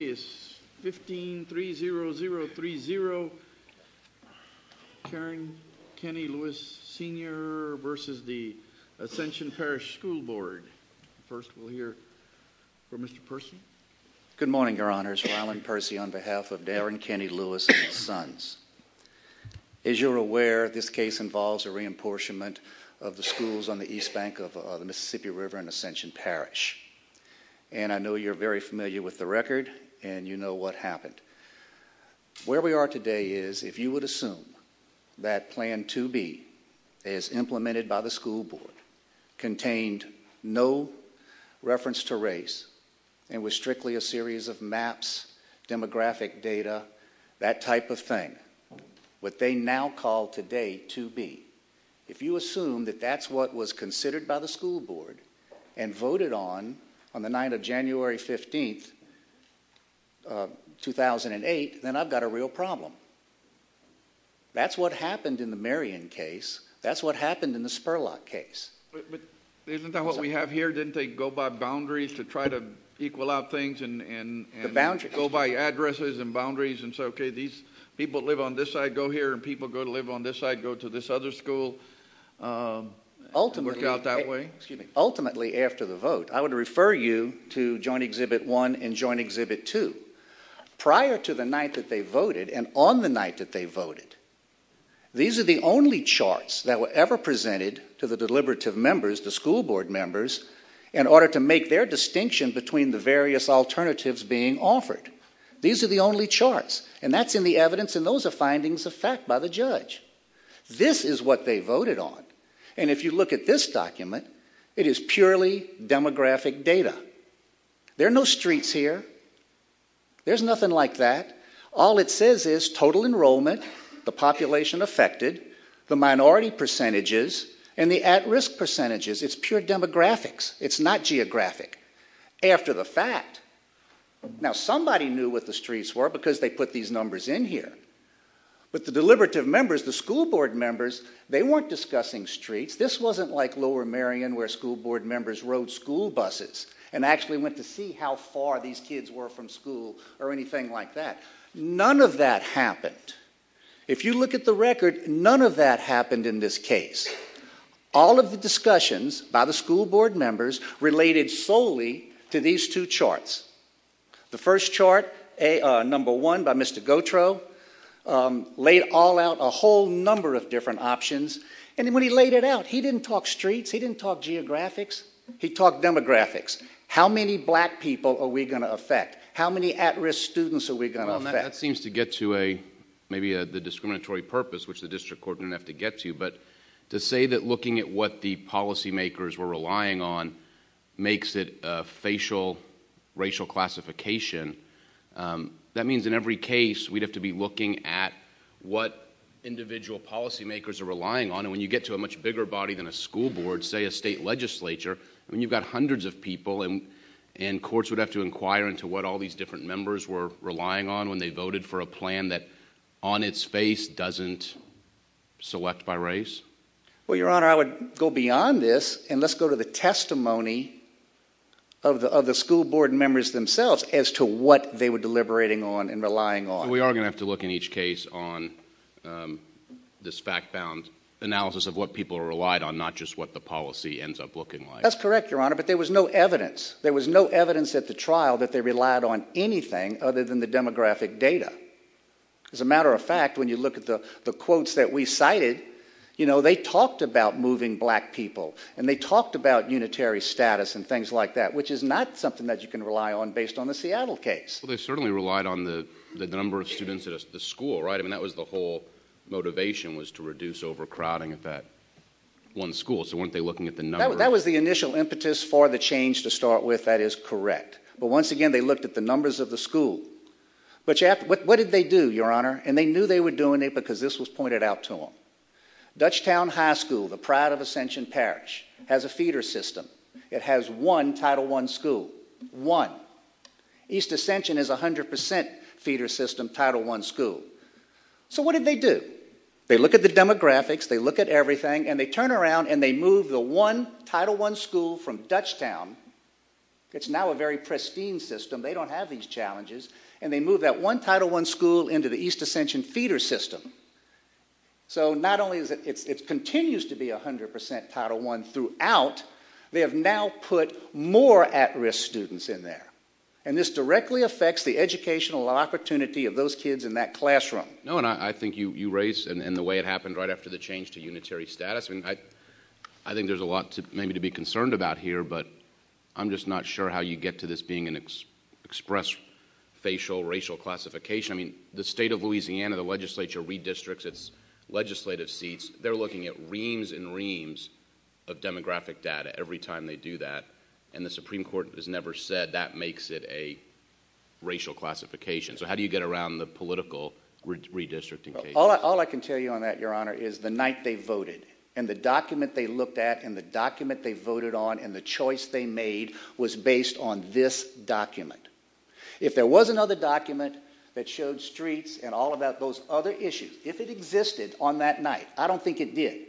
1530030, Darren Kenny Lewis, Sr. v. Ascension Parish School Board. First we'll hear from Mr. Percy. Good morning, Your Honors. Ryland Percy on behalf of Darren Kenny Lewis and his sons. As you're aware, this case involves a re-apportionment of the schools on the east bank of the Mississippi River and Ascension Parish. And I know you're very familiar with the record and you know what happened. Where we are today is, if you would assume that Plan 2B, as implemented by the school board, contained no reference to race and was strictly a series of maps, demographic data, that type of thing, what they now call today 2B, if you assume that that's what was considered by the school board and voted on on the night of January 15, 2008, then I've got a real problem. That's what happened in the Marion case. That's what happened in the Spurlock case. But isn't that what we have here? Didn't they go by boundaries to try to equal out things and go by addresses and boundaries and say, OK, these people that live on this side go here and people that live on this side go to this other school and work out that way? Ultimately, after the vote, I would refer you to Joint Exhibit 1 and Joint Exhibit 2. Prior to the night that they voted and on the night that they voted, these are the only charts that were ever presented to the deliberative members, the school board members, in order to make their distinction between the various alternatives being offered. These are the only charts, and that's in the evidence, and those are findings of fact by the judge. This is what they voted on, and if you look at this document, it is purely demographic data. There are no streets here. There's nothing like that. All it says is total enrollment, the population affected, the minority percentages, and the at-risk percentages. It's pure demographics. It's not geographic. After the fact, now somebody knew what the streets were because they put these numbers in here, but the deliberative members, the school board members, they weren't discussing streets. This wasn't like Lower Marion where school board members rode school buses and actually went to see how far these kids were from school or anything like that. None of that happened. If you look at the record, none of that happened in this case. All of the discussions by the school board members related solely to these two charts. The first chart, number one by Mr. Gautreaux, laid all out a whole number of different options, and when he laid it out, he didn't talk streets. He didn't talk geographics. He talked demographics. How many black people are we going to affect? How many at-risk students are we going to affect? Well, that seems to get to maybe the discriminatory purpose, which the district court didn't have to get to, but to say that looking at what the policymakers were relying on makes it a facial racial classification, that means in every case we'd have to be looking at what individual policymakers are relying on. When you get to a much bigger body than a school board, say a state legislature, you've got hundreds of people, and courts would have to inquire into what all these different members were relying on when they voted for a plan that on its face doesn't select by race? Well, Your Honor, I would go beyond this, and let's go to the testimony of the school board members themselves as to what they were deliberating on and relying on. We are going to have to look in each case on this fact-bound analysis of what people relied on, not just what the policy ends up looking like. That's correct, Your Honor, but there was no evidence. There was no evidence at the trial that they relied on anything other than the demographic data. As a matter of fact, when you look at the quotes that we cited, they talked about moving black people, and they talked about unitary status and things like that, which is not something that you can rely on based on the Seattle case. Well, they certainly relied on the number of students at the school, right? I mean, that was the whole motivation was to reduce overcrowding at that one school, so weren't they looking at the number? That was the initial impetus for the change to start with. That is correct. But once again, they looked at the numbers of the school. What did they do, Your Honor? And they knew they were doing it because this was pointed out to them. Dutchtown High School, the pride of Ascension Parish, has a feeder system. It has one Title I school, one. East Ascension has a 100% feeder system, Title I school. So what did they do? They looked at the demographics, they looked at everything, and they turned around and they moved the one Title I school from Dutchtown. It's now a very pristine system. They don't have these challenges. And they moved that one Title I school into the East Ascension feeder system. So not only is it continues to be 100% Title I throughout, they have now put more at-risk students in there. And this directly affects the educational opportunity of those kids in that classroom. No, and I think you raise, and the way it happened right after the change to unitary status, I think there's a lot maybe to be concerned about here, but I'm just not sure how you get to this being an express facial racial classification. I mean, the state of Louisiana, the legislature redistricts its legislative seats. They're looking at reams and reams of demographic data every time they do that, and the Supreme Court has never said that makes it a racial classification. So how do you get around the political redistricting case? All I can tell you on that, Your Honor, is the night they voted and the document they looked at and the document they voted on and the choice they made was based on this document. If there was another document that showed streets and all about those other issues, if it existed on that night, I don't think it did.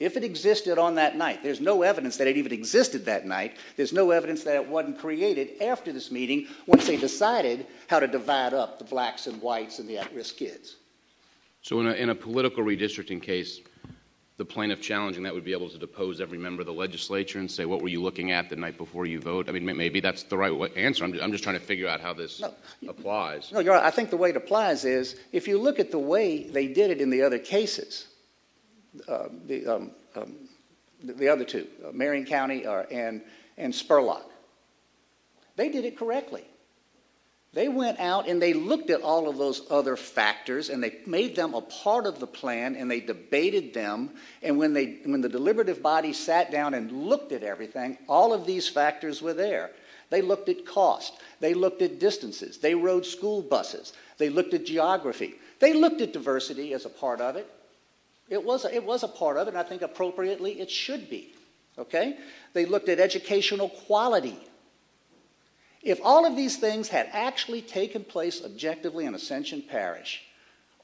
If it existed on that night, there's no evidence that it even existed that night. There's no evidence that it wasn't created after this meeting once they decided how to divide up the blacks and whites and the at-risk kids. So in a political redistricting case, the plaintiff challenging that would be able to depose every member of the legislature and say, what were you looking at the night before you vote? I mean, maybe that's the right answer. I'm just trying to figure out how this applies. No, Your Honor, I think the way it applies is if you look at the way they did it in the other cases, the other two, Marion County and Spurlock, they did it correctly. They went out and they looked at all of those other factors and they made them a part of the plan and they debated them and when the deliberative body sat down and looked at everything, all of these factors were there. They looked at cost. They looked at distances. They rode school buses. They looked at geography. They looked at diversity as a part of it. It was a part of it and I think appropriately it should be. They looked at educational quality. If all of these things had actually taken place objectively in Ascension Parish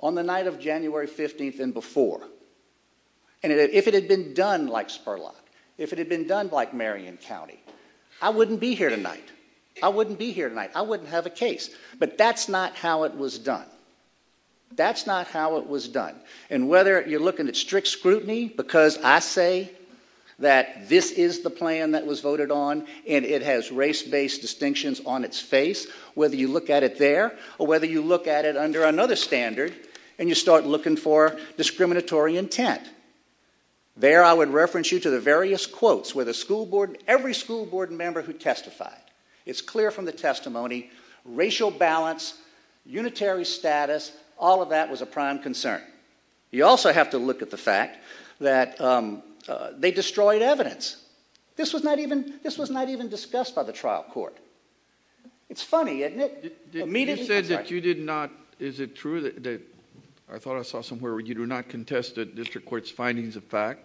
on the night of January 15th and before, and if it had been done like Spurlock, if it had been done like Marion County, I wouldn't be here tonight. I wouldn't be here tonight. I wouldn't have a case. But that's not how it was done. That's not how it was done. And whether you're looking at strict scrutiny, because I say that this is the plan that was voted on and it has race-based distinctions on its face, whether you look at it there or whether you look at it under another standard and you start looking for discriminatory intent, there I would reference you to the various quotes where every school board member who testified, it's clear from the testimony, racial balance, unitary status, all of that was a prime concern. You also have to look at the fact that they destroyed evidence. This was not even discussed by the trial court. It's funny, isn't it? You said that you did not, is it true that, I thought I saw somewhere, you do not contest the district court's findings of fact?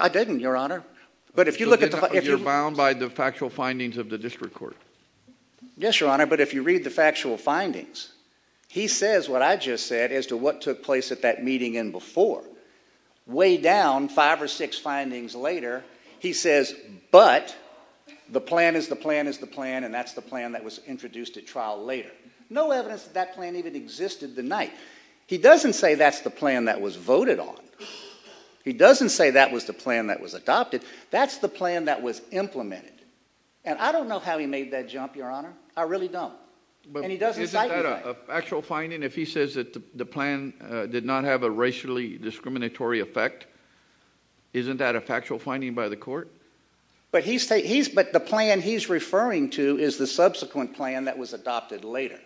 I didn't, Your Honor. You're bound by the factual findings of the district court? Yes, Your Honor, but if you read the factual findings, he says what I just said as to what took place at that meeting and before. Way down, five or six findings later, he says, but the plan is the plan is the plan and that's the plan that was introduced at trial later. No evidence that that plan even existed the night. He doesn't say that's the plan that was voted on. He doesn't say that was the plan that was adopted. That's the plan that was implemented and I don't know how he made that jump, Your Honor. I really don't and he doesn't cite me like that. But isn't that a factual finding? If he says that the plan did not have a racially discriminatory effect, isn't that a factual finding by the court? But the plan he's referring to is the subsequent plan that was adopted later.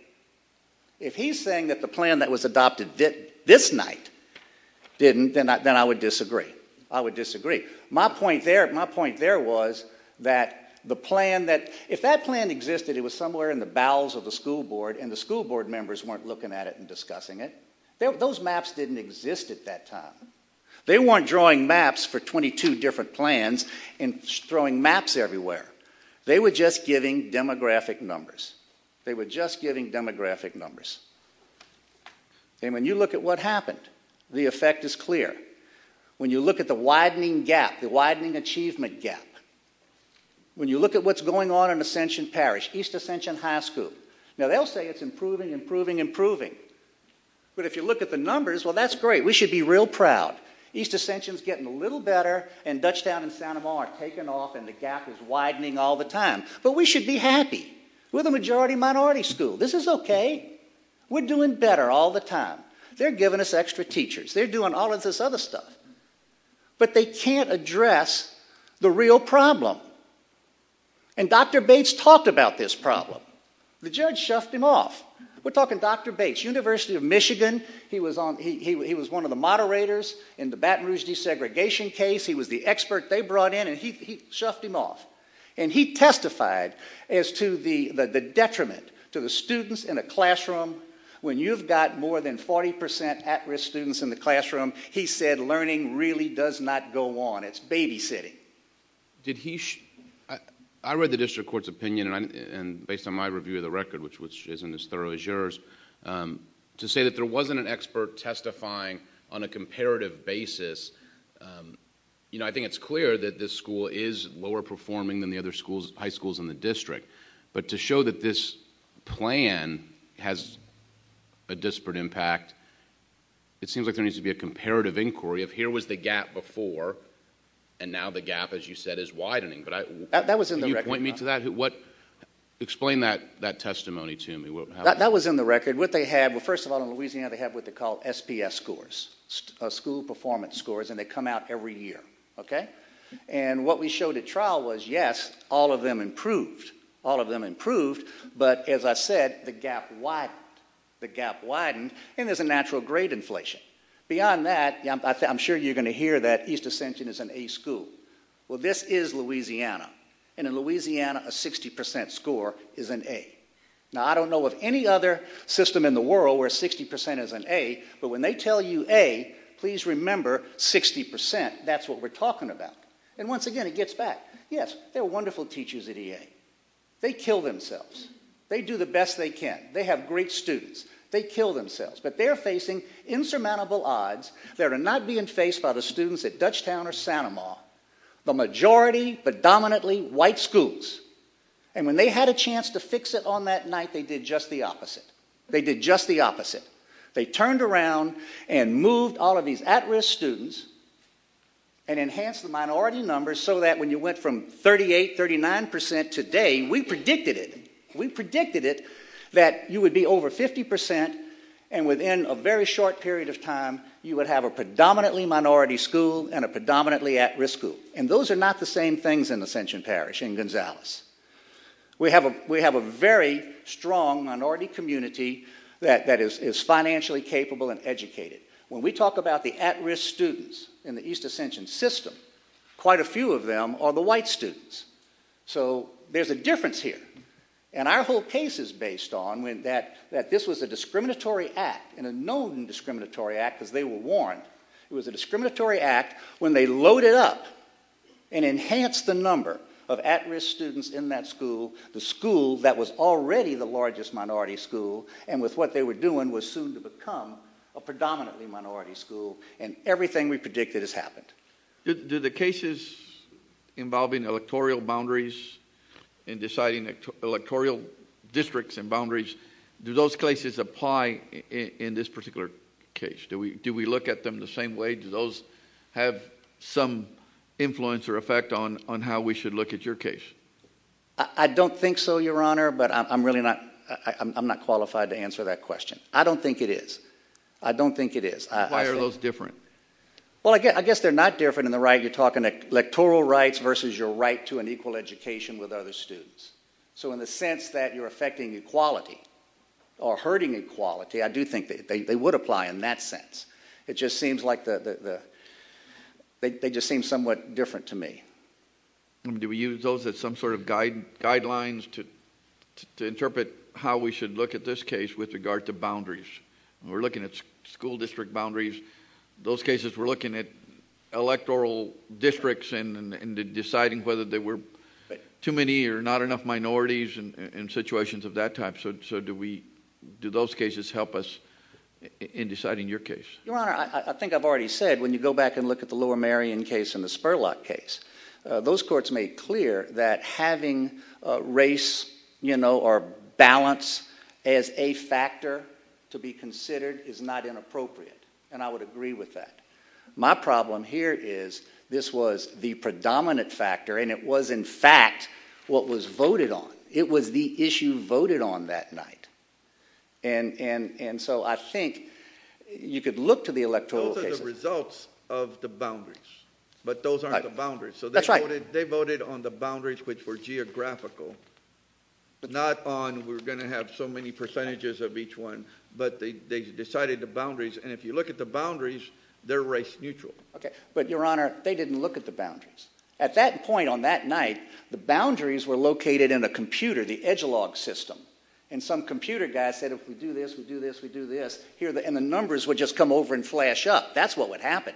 If he's saying that the plan that was adopted this night didn't, then I would disagree. I would disagree. My point there was that the plan that, if that plan existed, it was somewhere in the bowels of the school board and the school board members weren't looking at it and discussing it. Those maps didn't exist at that time. They weren't drawing maps for 22 different plans and throwing maps everywhere. They were just giving demographic numbers. They were just giving demographic numbers. And when you look at what happened, the effect is clear. When you look at the widening gap, the widening achievement gap, when you look at what's going on in Ascension Parish, East Ascension High School, now they'll say it's improving, improving, improving. But if you look at the numbers, well, that's great. We should be real proud. East Ascension's getting a little better and Dutchtown and Santa Monica are taking off and the gap is widening all the time. But we should be happy. We're the majority minority school. This is okay. We're doing better all the time. They're giving us extra teachers. They're doing all of this other stuff. But they can't address the real problem. And Dr Bates talked about this problem. The judge shuffed him off. We're talking Dr Bates, University of Michigan. He was one of the moderators in the Baton Rouge desegregation case. He was the expert they brought in and he shuffed him off. And he testified as to the detriment to the students in a classroom when you've got more than 40% at-risk students in the classroom. He said learning really does not go on. It's babysitting. I read the district court's opinion and based on my review of the record, which isn't as thorough as yours, to say that there wasn't an expert testifying on a comparative basis. I think it's clear that this school is lower performing than the other high schools in the district. But to show that this plan has a disparate impact, it seems like there needs to be a comparative inquiry of here was the gap before and now the gap, as you said, is widening. Can you point me to that? Explain that testimony to me. That was in the record. First of all, in Louisiana they have what they call SPS scores, school performance scores, and they come out every year. And what we showed at trial was, yes, all of them improved. All of them improved, but as I said, the gap widened. The gap widened, and there's a natural grade inflation. Beyond that, I'm sure you're going to hear that East Ascension is an A school. Well, this is Louisiana. And in Louisiana, a 60% score is an A. Now, I don't know of any other system in the world where 60% is an A, but when they tell you A, please remember 60%. That's what we're talking about. And once again, it gets back. Yes, they're wonderful teachers at EA. They kill themselves. They do the best they can. They have great students. They kill themselves. But they're facing insurmountable odds that are not being faced by the students at Dutchtown or Santa Ma. The majority, but dominantly, white schools. And when they had a chance to fix it on that night, they did just the opposite. They did just the opposite. They turned around and moved all of these at-risk students and enhanced the minority numbers so that when you went from 38%, 39% today, we predicted it. We predicted it that you would be over 50% and within a very short period of time, you would have a predominantly minority school and a predominantly at-risk school. And those are not the same things in Ascension Parish, in Gonzales. We have a very strong minority community that is financially capable and educated. When we talk about the at-risk students in the East Ascension system, quite a few of them are the white students. So there's a difference here. And our whole case is based on that this was a discriminatory act, and a known discriminatory act because they were warned. It was a discriminatory act when they loaded up and enhanced the number of at-risk students in that school, the school that was already the largest minority school, and with what they were doing was soon to become a predominantly minority school, and everything we predicted has happened. Do the cases involving electoral boundaries and deciding electoral districts and boundaries, do those cases apply in this particular case? Do we look at them the same way? Do those have some influence or effect on how we should look at your case? I don't think so, Your Honor, but I'm really not qualified to answer that question. I don't think it is. I don't think it is. Why are those different? Well, I guess they're not different in the way you're talking about electoral rights versus your right to an equal education with other students. So in the sense that you're affecting equality or hurting equality, I do think they would apply in that sense. It just seems like they just seem somewhat different to me. Do we use those as some sort of guidelines to interpret how we should look at this case with regard to boundaries? We're looking at school district boundaries. In those cases, we're looking at electoral districts and deciding whether there were too many or not enough minorities in situations of that type. So do those cases help us in deciding your case? Your Honor, I think I've already said, when you go back and look at the Lower Marion case and the Spurlock case, those courts made clear that having race or balance as a factor to be considered is not inappropriate, and I would agree with that. My problem here is this was the predominant factor, and it was, in fact, what was voted on. It was the issue voted on that night. And so I think you could look to the electoral cases... The results of the boundaries, but those aren't the boundaries. That's right. So they voted on the boundaries which were geographical, not on we're going to have so many percentages of each one, but they decided the boundaries, and if you look at the boundaries, they're race-neutral. But, Your Honor, they didn't look at the boundaries. At that point on that night, the boundaries were located in a computer, the edgelog system, and some computer guy said, if we do this, we do this, we do this, and the numbers would just come over and flash up. That's what would happen.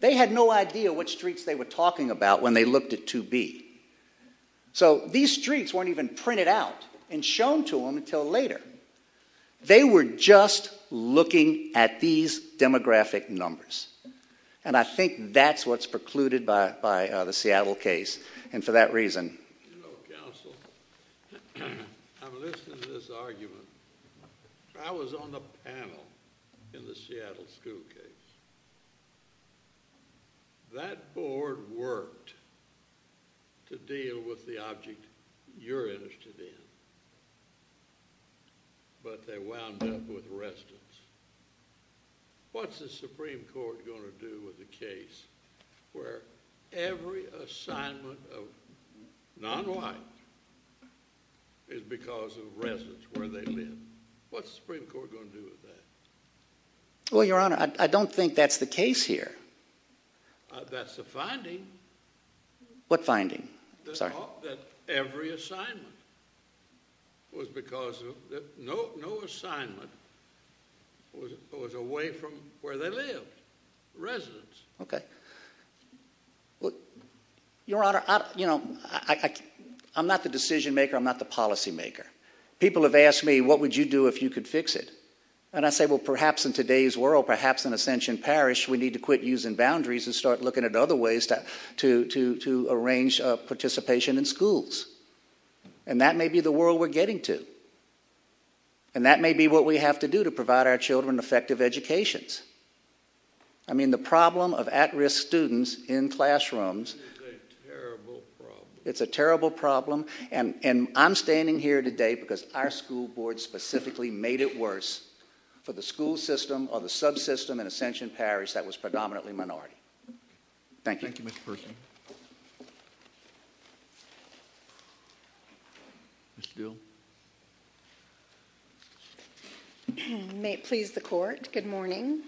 They had no idea which streets they were talking about when they looked at 2B. So these streets weren't even printed out and shown to them until later. They were just looking at these demographic numbers, and I think that's what's precluded by the Seattle case, and for that reason... You know, counsel, I'm listening to this argument. I was on the panel in the Seattle school case. That board worked to deal with the object you're interested in, but they wound up with residents. What's the Supreme Court going to do with a case where every assignment of non-whites is because of residents, where they live? What's the Supreme Court going to do with that? Well, Your Honor, I don't think that's the case here. That's the finding. What finding? That every assignment was because of... No assignment was away from where they lived, residents. OK. Your Honor, you know, I'm not the decision-maker, I'm not the policy-maker. People have asked me, what would you do if you could fix it? And I say, well, perhaps in today's world, perhaps in Ascension Parish, we need to quit using boundaries and start looking at other ways to arrange participation in schools, and that may be the world we're getting to, and that may be what we have to do to provide our children effective educations. I mean, the problem of at-risk students in classrooms... It's a terrible problem. It's a terrible problem, and I'm standing here today because our school board specifically made it worse for the school system or the subsystem in Ascension Parish that was predominantly minority. Thank you. Thank you, Mr. Perkins. Ms. Dill. May it please the Court, good morning.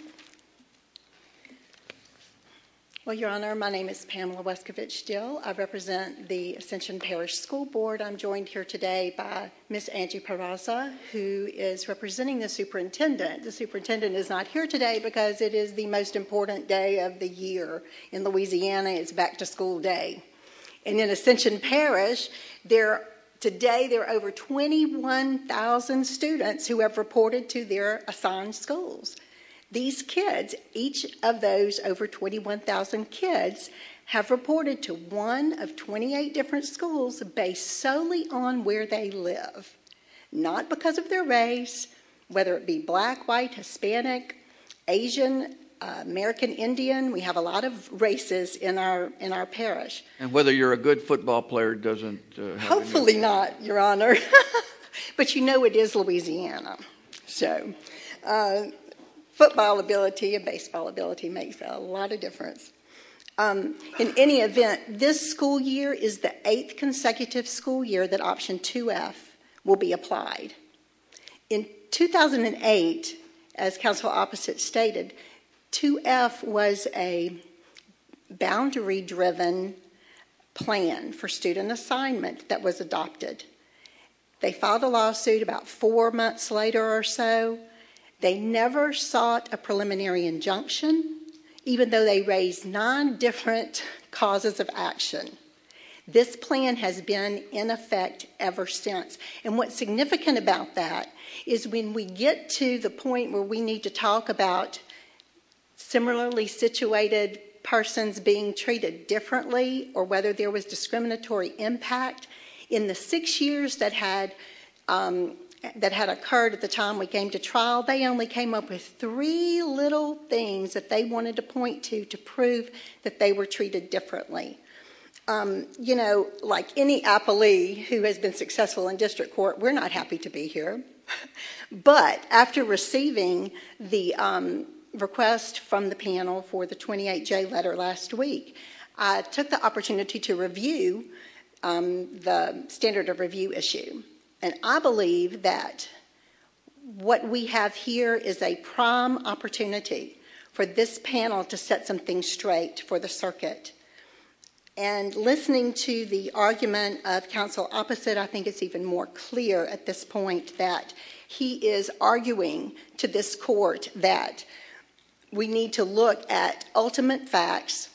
Well, Your Honor, my name is Pamela Wescovitch Dill. I represent the Ascension Parish School Board. I'm joined here today by Ms. Angie Parraza, who is representing the superintendent. The superintendent is not here today because it is the most important day of the year. In Louisiana, it's back-to-school day. And in Ascension Parish, today there are over 21,000 students who have reported to their assigned schools. These kids, each of those over 21,000 kids, have reported to one of 28 different schools based solely on where they live, not because of their race, whether it be black, white, Hispanic, Asian, American, Indian. We have a lot of races in our parish. And whether you're a good football player doesn't... Hopefully not, Your Honor. But you know it is Louisiana. So, football ability and baseball ability makes a lot of difference. In any event, this school year is the eighth consecutive school year that Option 2F will be applied. In 2008, as counsel opposite stated, 2F was a boundary-driven plan for student assignment that was adopted. They filed a lawsuit about four months later or so. They never sought a preliminary injunction, even though they raised nine different causes of action. This plan has been in effect ever since. is when we get to the point where we need to talk about similarly situated persons being treated differently or whether there was discriminatory impact. In the six years that had occurred at the time we came to trial, they only came up with three little things that they wanted to point to to prove that they were treated differently. You know, like any appellee who has been successful in district court, we're not happy to be here. But after receiving the request from the panel for the 28J letter last week, I took the opportunity to review the standard of review issue. And I believe that what we have here is a prime opportunity for this panel to set something straight for the circuit. And listening to the argument of counsel opposite, I think it's even more clear at this point that he is arguing to this court that we need to look at ultimate facts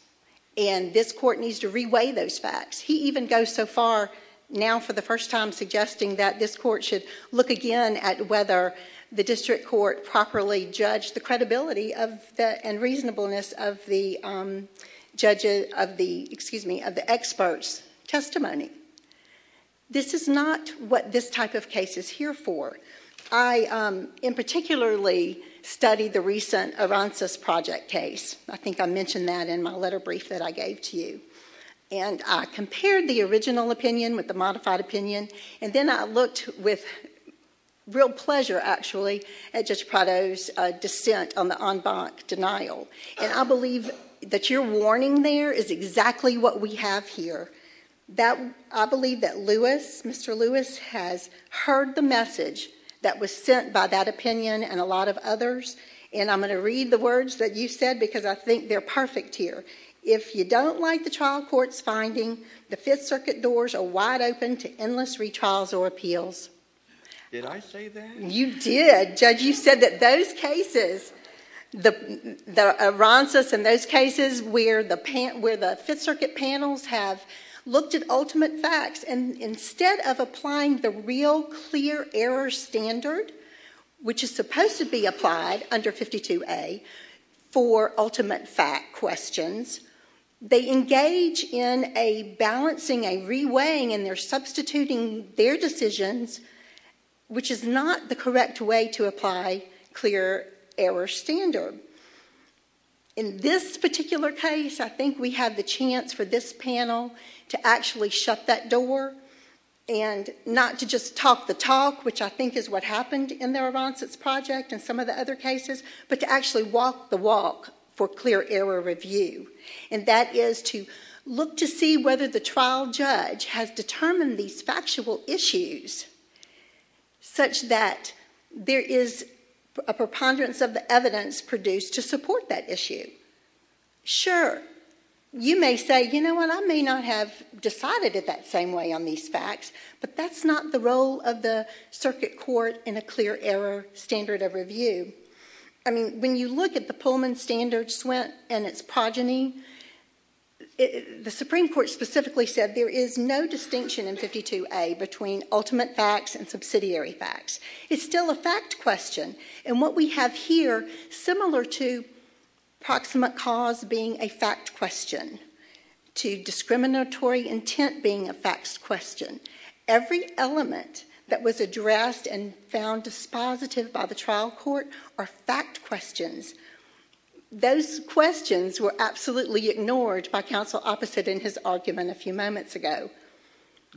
and this court needs to reweigh those facts. He even goes so far now for the first time suggesting that this court should look again at whether the district court properly judged the credibility and reasonableness of the judges... Excuse me, of the experts' testimony. This is not what this type of case is here for. I in particularly studied the recent Aransas Project case. I think I mentioned that in my letter brief that I gave to you. And I compared the original opinion with the modified opinion and then I looked with real pleasure, actually, at Judge Prado's dissent on the en banc denial. And I believe that your warning there is exactly what we have here. I believe that Mr Lewis has heard the message that was sent by that opinion and a lot of others. And I'm going to read the words that you said because I think they're perfect here. If you don't like the trial court's finding, the Fifth Circuit doors are wide open to endless retrials or appeals. Did I say that? You did. Judge, you said that those cases, the Aransas and those cases where the Fifth Circuit panels have looked at ultimate facts and instead of applying the real clear error standard, which is supposed to be applied under 52A for ultimate fact questions, they engage in a balancing, a reweighing, and they're substituting their decisions, which is not the correct way to apply clear error standard. In this particular case, I think we have the chance for this panel to actually shut that door and not to just talk the talk, which I think is what happened in the Aransas project and some of the other cases, but to actually walk the walk for clear error review. And that is to look to see whether the trial judge has determined these factual issues such that there is a preponderance of the evidence produced to support that issue. Sure, you may say, you know what, I may not have decided it that same way on these facts, but that's not the role of the circuit court in a clear error standard of review. I mean, when you look at the Pullman standard and its progeny, the Supreme Court specifically said there is no distinction in 52A between ultimate facts and subsidiary facts. It's still a fact question, and what we have here, similar to proximate cause being a fact question to discriminatory intent being a facts question, every element that was addressed and found dispositive by the trial court are fact questions. Those questions were absolutely ignored by counsel opposite in his argument a few moments ago.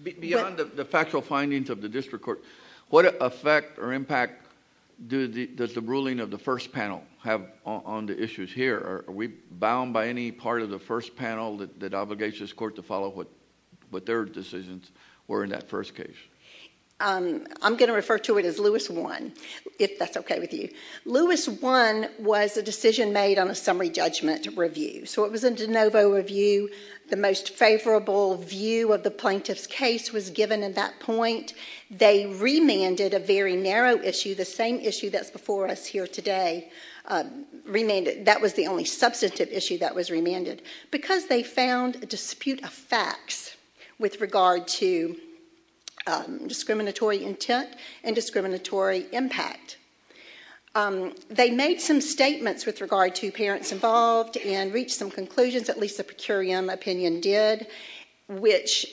Beyond the factual findings of the district court, what effect or impact does the ruling of the first panel have on the issues here? Are we bound by any part of the first panel that obligates this court to follow what their decisions were in that first case? I'm going to refer to it as Lewis I, if that's okay with you. Lewis I was a decision made on a summary judgment review, so it was a de novo review. The most favorable view of the plaintiff's case was given at that point. They remanded a very narrow issue, the same issue that's before us here today, that was the only substantive issue that was remanded, because they found a dispute of facts with regard to discriminatory intent and discriminatory impact. They made some statements with regard to parents involved and reached some conclusions, at least the per curiam opinion did, which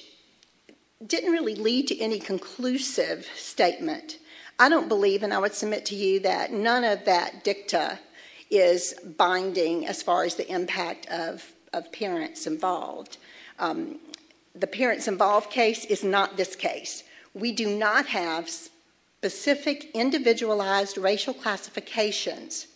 didn't really lead to any conclusive statement. I don't believe, and I would submit to you, that none of that dicta is binding as far as the impact of parents involved. The parents involved case is not this case. We do not have specific individualized racial classifications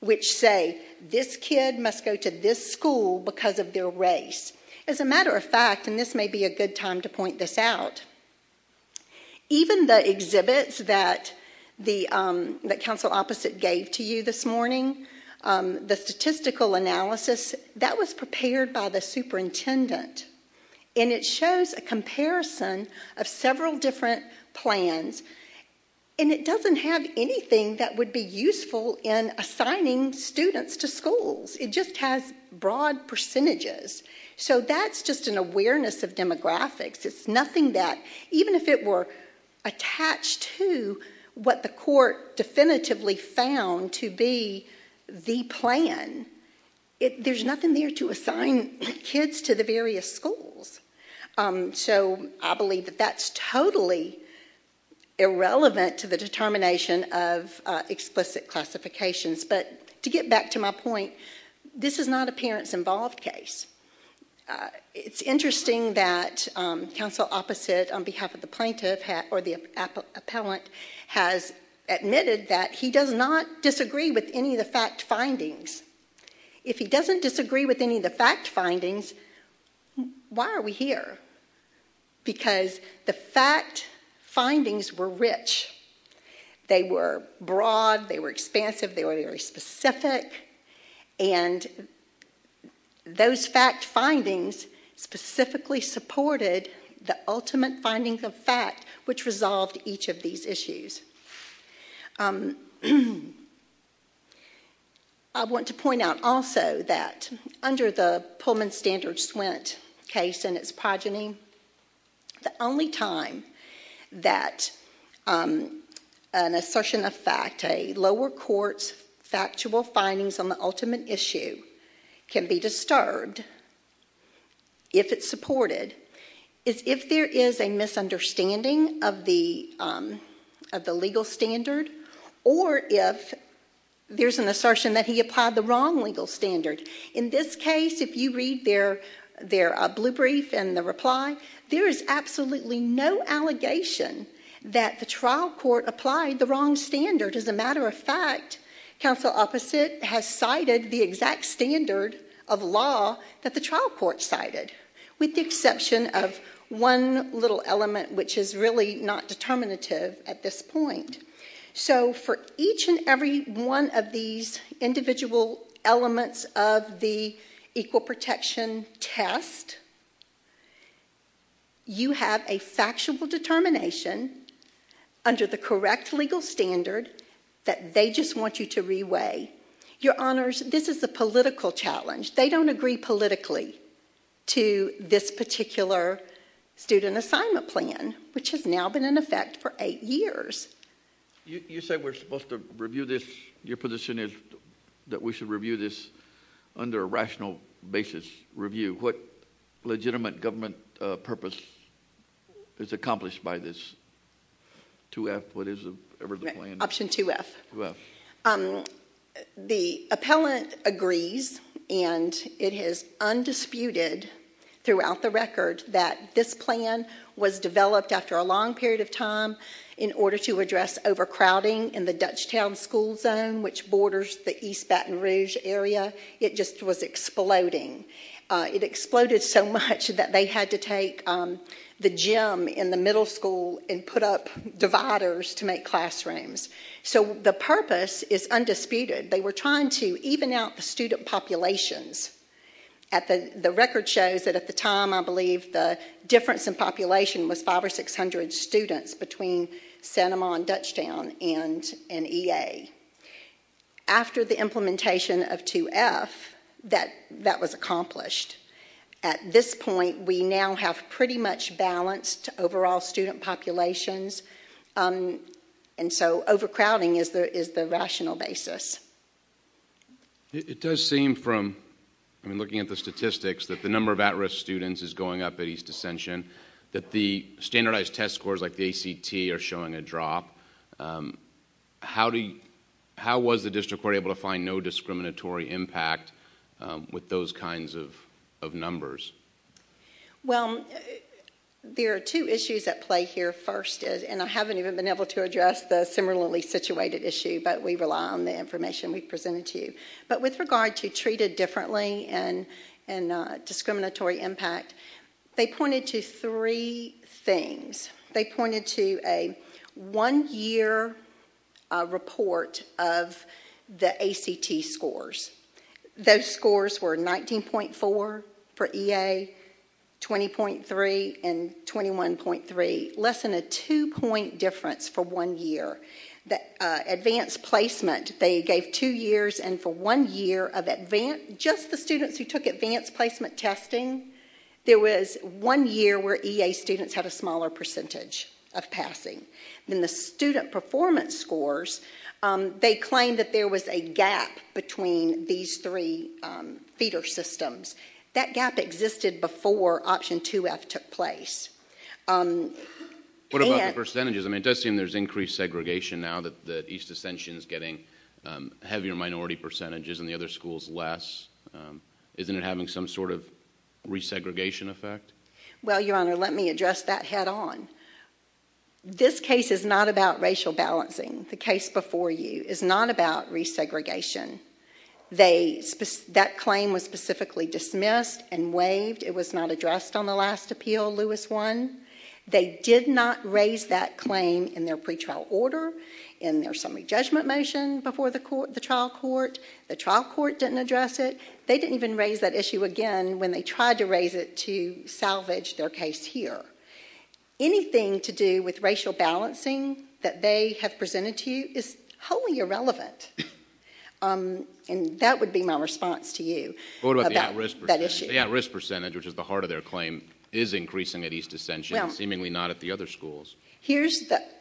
which say this kid must go to this school because of their race. As a matter of fact, and this may be a good time to point this out, even the exhibits that Council Opposite gave to you this morning, the statistical analysis, that was prepared by the superintendent, and it shows a comparison of several different plans, and it doesn't have anything that would be useful in assigning students to schools. It just has broad percentages. So that's just an awareness of demographics. It's nothing that... Even if it were attached to what the court definitively found to be the plan, there's nothing there to assign kids to the various schools. So I believe that that's totally irrelevant to the determination of explicit classifications. But to get back to my point, this is not a parents involved case. It's interesting that Council Opposite, on behalf of the plaintiff or the appellant, has admitted that he does not disagree with any of the fact findings. If he doesn't disagree with any of the fact findings, why are we here? Because the fact findings were rich. They were broad, they were expansive, they were very specific, and those fact findings specifically supported the ultimate finding of fact which resolved each of these issues. I want to point out also that, under the Pullman-Standard-Swent case and its progeny, the only time that an assertion of fact, a lower court's factual findings on the ultimate issue, can be disturbed, if it's supported, is if there is a misunderstanding of the legal standard or if there's an assertion that he applied the wrong legal standard. In this case, if you read their blue brief and the reply, there is absolutely no allegation that the trial court applied the wrong standard. As a matter of fact, Council Opposite has cited the exact standard of law that the trial court cited, with the exception of one little element which is really not determinative at this point. So, for each and every one of these individual elements of the equal protection test, you have a factual determination, under the correct legal standard, that they just want you to re-weigh. Your Honours, this is a political challenge. They don't agree politically to this particular student assignment plan, which has now been in effect for eight years. You say we're supposed to review this. Your position is that we should review this under a rational basis review. What legitimate government purpose is accomplished by this? 2F, what is the plan? Option 2F. The appellant agrees, and it is undisputed throughout the record, that this plan was developed after a long period of time in order to address overcrowding in the Dutchtown school zone, which borders the East Baton Rouge area. It just was exploding. It exploded so much that they had to take the gym in the middle school and put up dividers to make classrooms. So the purpose is undisputed. They were trying to even out the student populations. The record shows that at the time, I believe, the difference in population was 500 or 600 students between Santa Monica and Dutchtown and EA. After the implementation of 2F, that was accomplished. At this point, we now have pretty much balanced overall student populations, and so overcrowding is the rational basis. It does seem from looking at the statistics that the number of at-risk students is going up at East Ascension, that the standardized test scores like the ACT are showing a drop. How was the district court able to find no discriminatory impact with those kinds of numbers? Well, there are two issues at play here. First is, and I haven't even been able to address the similarly situated issue, but we rely on the information we've presented to you. But with regard to treated differently and discriminatory impact, they pointed to three things. They pointed to a one-year report of the ACT scores. Those scores were 19.4 for EA, 20.3 and 21.3, less than a two-point difference for one year. Advanced placement, they gave two years, and for one year of just the students who took advanced placement testing, there was one year where EA students had a smaller percentage of passing. Then the student performance scores, they claimed that there was a gap between these three feeder systems. That gap existed before Option 2F took place. What about the percentages? I mean, it does seem there's increased segregation now that East Ascension is getting heavier minority percentages and the other schools less. Isn't it having some sort of resegregation effect? Well, Your Honor, let me address that head-on. This case is not about racial balancing. The case before you is not about resegregation. That claim was specifically dismissed and waived. It was not addressed on the last appeal, Lewis 1. They did not raise that claim in their pretrial order, in their summary judgment motion before the trial court. The trial court didn't address it. They didn't even raise that issue again when they tried to raise it to salvage their case here. Anything to do with racial balancing that they have presented to you is wholly irrelevant. And that would be my response to you about that issue. What about the at-risk percentage? The at-risk percentage, which is the heart of their claim, is increasing at East Ascension, seemingly not at the other schools.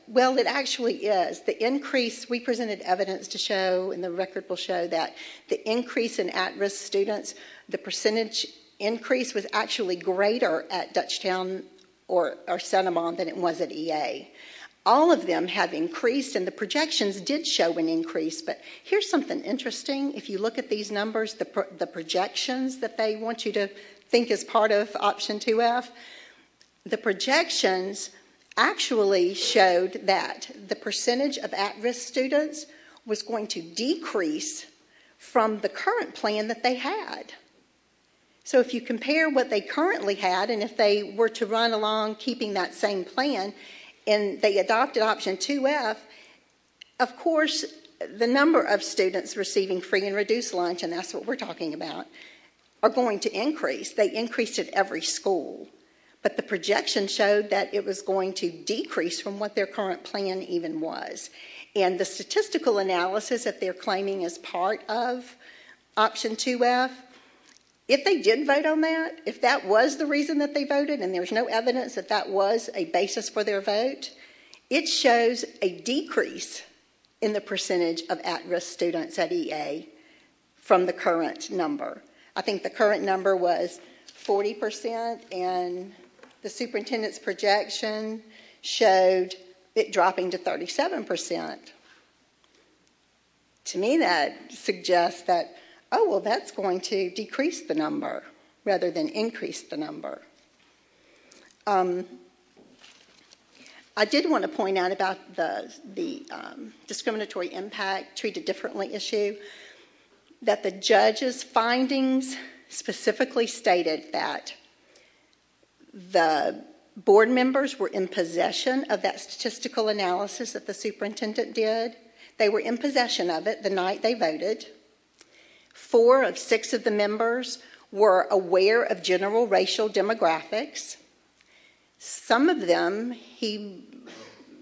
Well, it actually is. The increase we presented evidence to show, and the record will show that, the increase in at-risk students, the percentage increase was actually greater at Dutchtown or Santa Monica than it was at EA. All of them have increased, and the projections did show an increase. But here's something interesting. If you look at these numbers, the projections that they want you to think as part of Option 2F, the projections actually showed that the percentage of at-risk students was going to decrease from the current plan that they had. So if you compare what they currently had and if they were to run along keeping that same plan and they adopted Option 2F, of course the number of students receiving free and reduced lunch, and that's what we're talking about, are going to increase. They increased at every school. But the projection showed that it was going to decrease from what their current plan even was. And the statistical analysis that they're claiming as part of Option 2F, if they did vote on that, if that was the reason that they voted and there was no evidence that that was a basis for their vote, it shows a decrease in the percentage of at-risk students at EA from the current number. I think the current number was 40% and the superintendent's projection showed it dropping to 37%. To me, that suggests that, oh, well, that's going to decrease the number rather than increase the number. I did want to point out about the discriminatory impact, treat it differently issue, that the judge's findings specifically stated that the board members were in possession of that statistical analysis that the superintendent did. They were in possession of it the night they voted. Four of six of the members were aware of general racial demographics. Some of them, he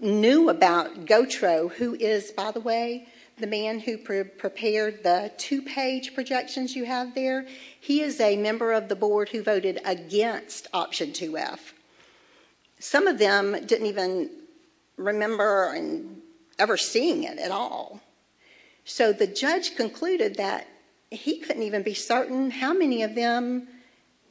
knew about Gotro, who is, by the way, the man who prepared the two-page projections you have there. He is a member of the board who voted against Option 2F. Some of them didn't even remember ever seeing it at all. So the judge concluded that he couldn't even be certain how many of them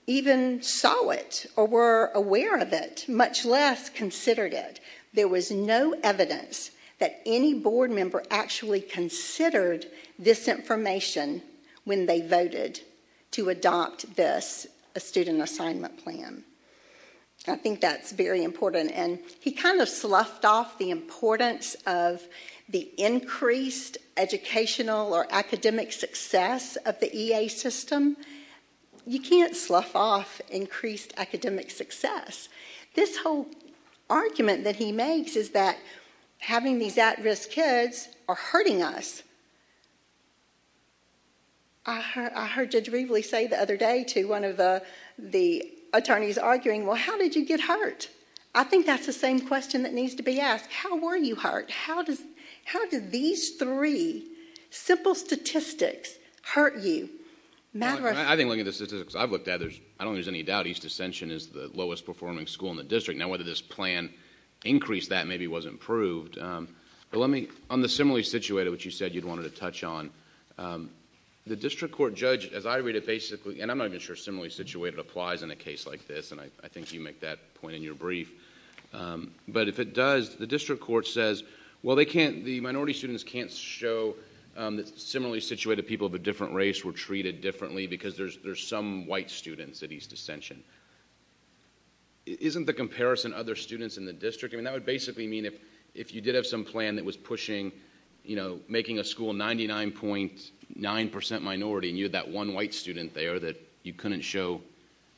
even saw it or were aware of it, much less considered it. There was no evidence that any board member actually considered this information when they voted to adopt this student assignment plan. I think that's very important. And he kind of sloughed off the importance of the increased educational or academic success of the EA system. You can't slough off increased academic success. This whole argument that he makes is that having these at-risk kids are hurting us. I heard Judge Reveley say the other day to one of the attorneys arguing, well, how did you get hurt? I think that's the same question that needs to be asked. How were you hurt? How did these three simple statistics hurt you? I think looking at the statistics I've looked at, I don't think there's any doubt East Ascension is the lowest performing school in the district. Now whether this plan increased that maybe wasn't proved. But let me, on the similarly situated, which you said you wanted to touch on, the district court judge, as I read it basically, and I'm not even sure similarly situated applies in a case like this, and I think you make that point in your brief, but if it does, the district court says, well, the minority students can't show that similarly situated people of a different race were treated differently because there's some white students at East Ascension. Isn't the comparison other students in the district? I mean, that would basically mean if you did have some plan that was pushing, making a school 99.9% minority and you had that one white student there that you couldn't show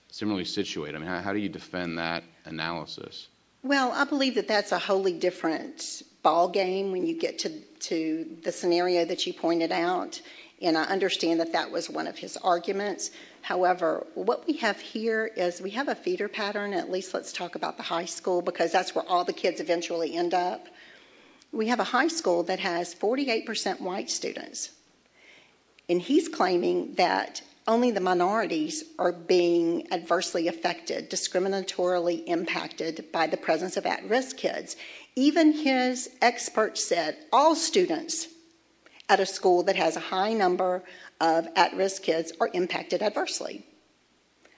similarly situated, I mean, how do you defend that analysis? Well, I believe that that's a wholly different ball game when you get to the scenario that you pointed out, and I understand that that was one of his arguments. However, what we have here is we have a feeder pattern, at least let's talk about the high school because that's where all the kids eventually end up. We have a high school that has 48% white students, and he's claiming that only the minorities are being adversely affected, discriminatorily impacted by the presence of at-risk kids. Even his experts said all students at a school that has a high number of at-risk kids are impacted adversely.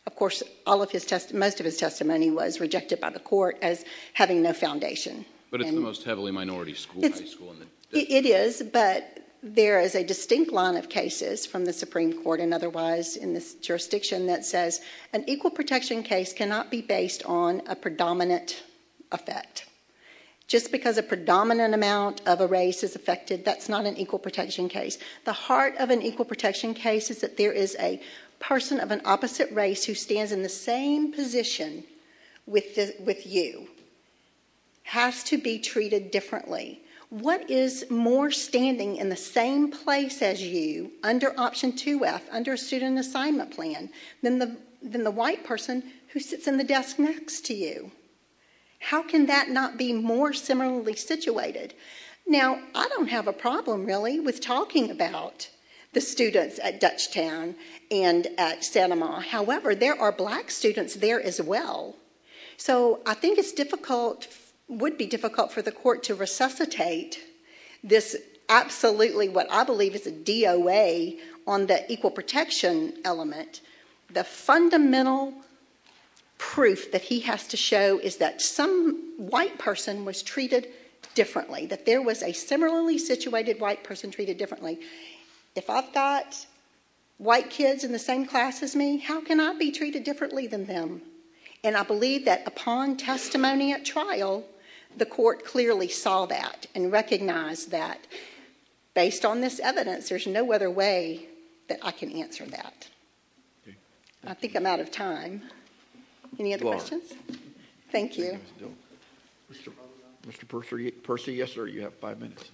Of course, most of his testimony was rejected by the court as having no foundation. But it's the most heavily minority school. It is, but there is a distinct line of cases from the Supreme Court and otherwise in this jurisdiction that says an equal protection case cannot be based on a predominant effect. Just because a predominant amount of a race is affected, that's not an equal protection case. The heart of an equal protection case is that there is a person of an opposite race who stands in the same position with you, has to be treated differently. What is more standing in the same place as you under Option 2F, under a student assignment plan, than the white person who sits in the desk next to you? How can that not be more similarly situated? Now, I don't have a problem, really, with talking about the students at Dutchtown and at Santa Ma. However, there are black students there as well. So I think it's difficult, would be difficult for the court to resuscitate this absolutely what I believe is a DOA on the equal protection element. The fundamental proof that he has to show is that some white person was treated differently, that there was a similarly situated white person treated differently. If I've got white kids in the same class as me, how can I be treated differently than them? And I believe that upon testimony at trial, the court clearly saw that and recognized that based on this evidence, there's no other way that I can answer that. I think I'm out of time. Any other questions? Thank you. Mr. Percy, yes, sir, you have five minutes.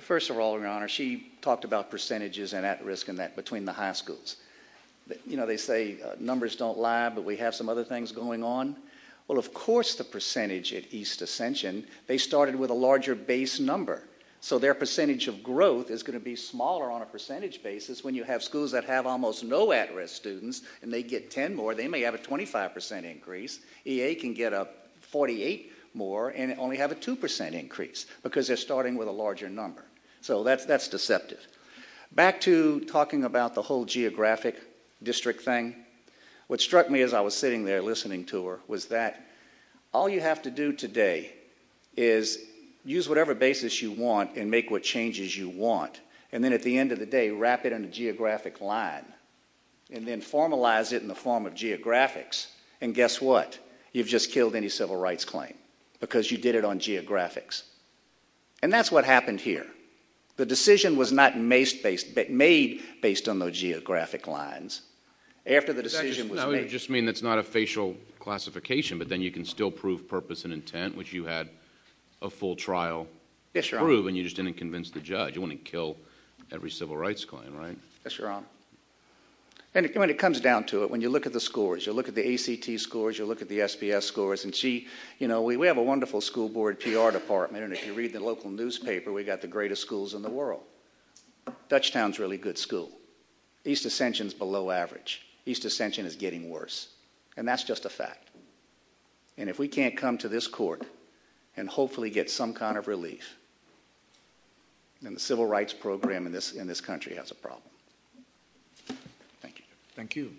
First of all, Your Honor, she talked about percentages and at-risk and that between the high schools. You know, they say numbers don't lie, but we have some other things going on. Well, of course, the percentage at East Ascension, they started with a larger base number. So their percentage of growth is going to be smaller on a percentage basis when you have schools that have almost no at-risk students and they get 10 more, they may have a 25% increase. EA can get up 48 more and only have a 2% increase because they're starting with a larger number. So that's deceptive. Back to talking about the whole geographic district thing, what struck me as I was sitting there listening to her was that all you have to do today is use whatever basis you want and make what changes you want and then at the end of the day, wrap it in a geographic line and then formalize it in the form of geographics. And guess what? You've just killed any civil rights claim because you did it on geographics. And that's what happened here. The decision was not made based on those geographic lines. After the decision was made... You just mean it's not a facial classification, but then you can still prove purpose and intent, which you had a full trial prove and you just didn't convince the judge. You wouldn't kill every civil rights claim, right? Yes, Your Honour. And when it comes down to it, when you look at the scores, you look at the ACT scores, you look at the SBS scores, and we have a wonderful school board PR department and if you read the local newspaper, we've got the greatest schools in the world. Dutchtown's a really good school. East Ascension's below average. East Ascension is getting worse. And that's just a fact. And if we can't come to this court and hopefully get some kind of relief, then the civil rights program in this country has a problem. Thank you. Thank you.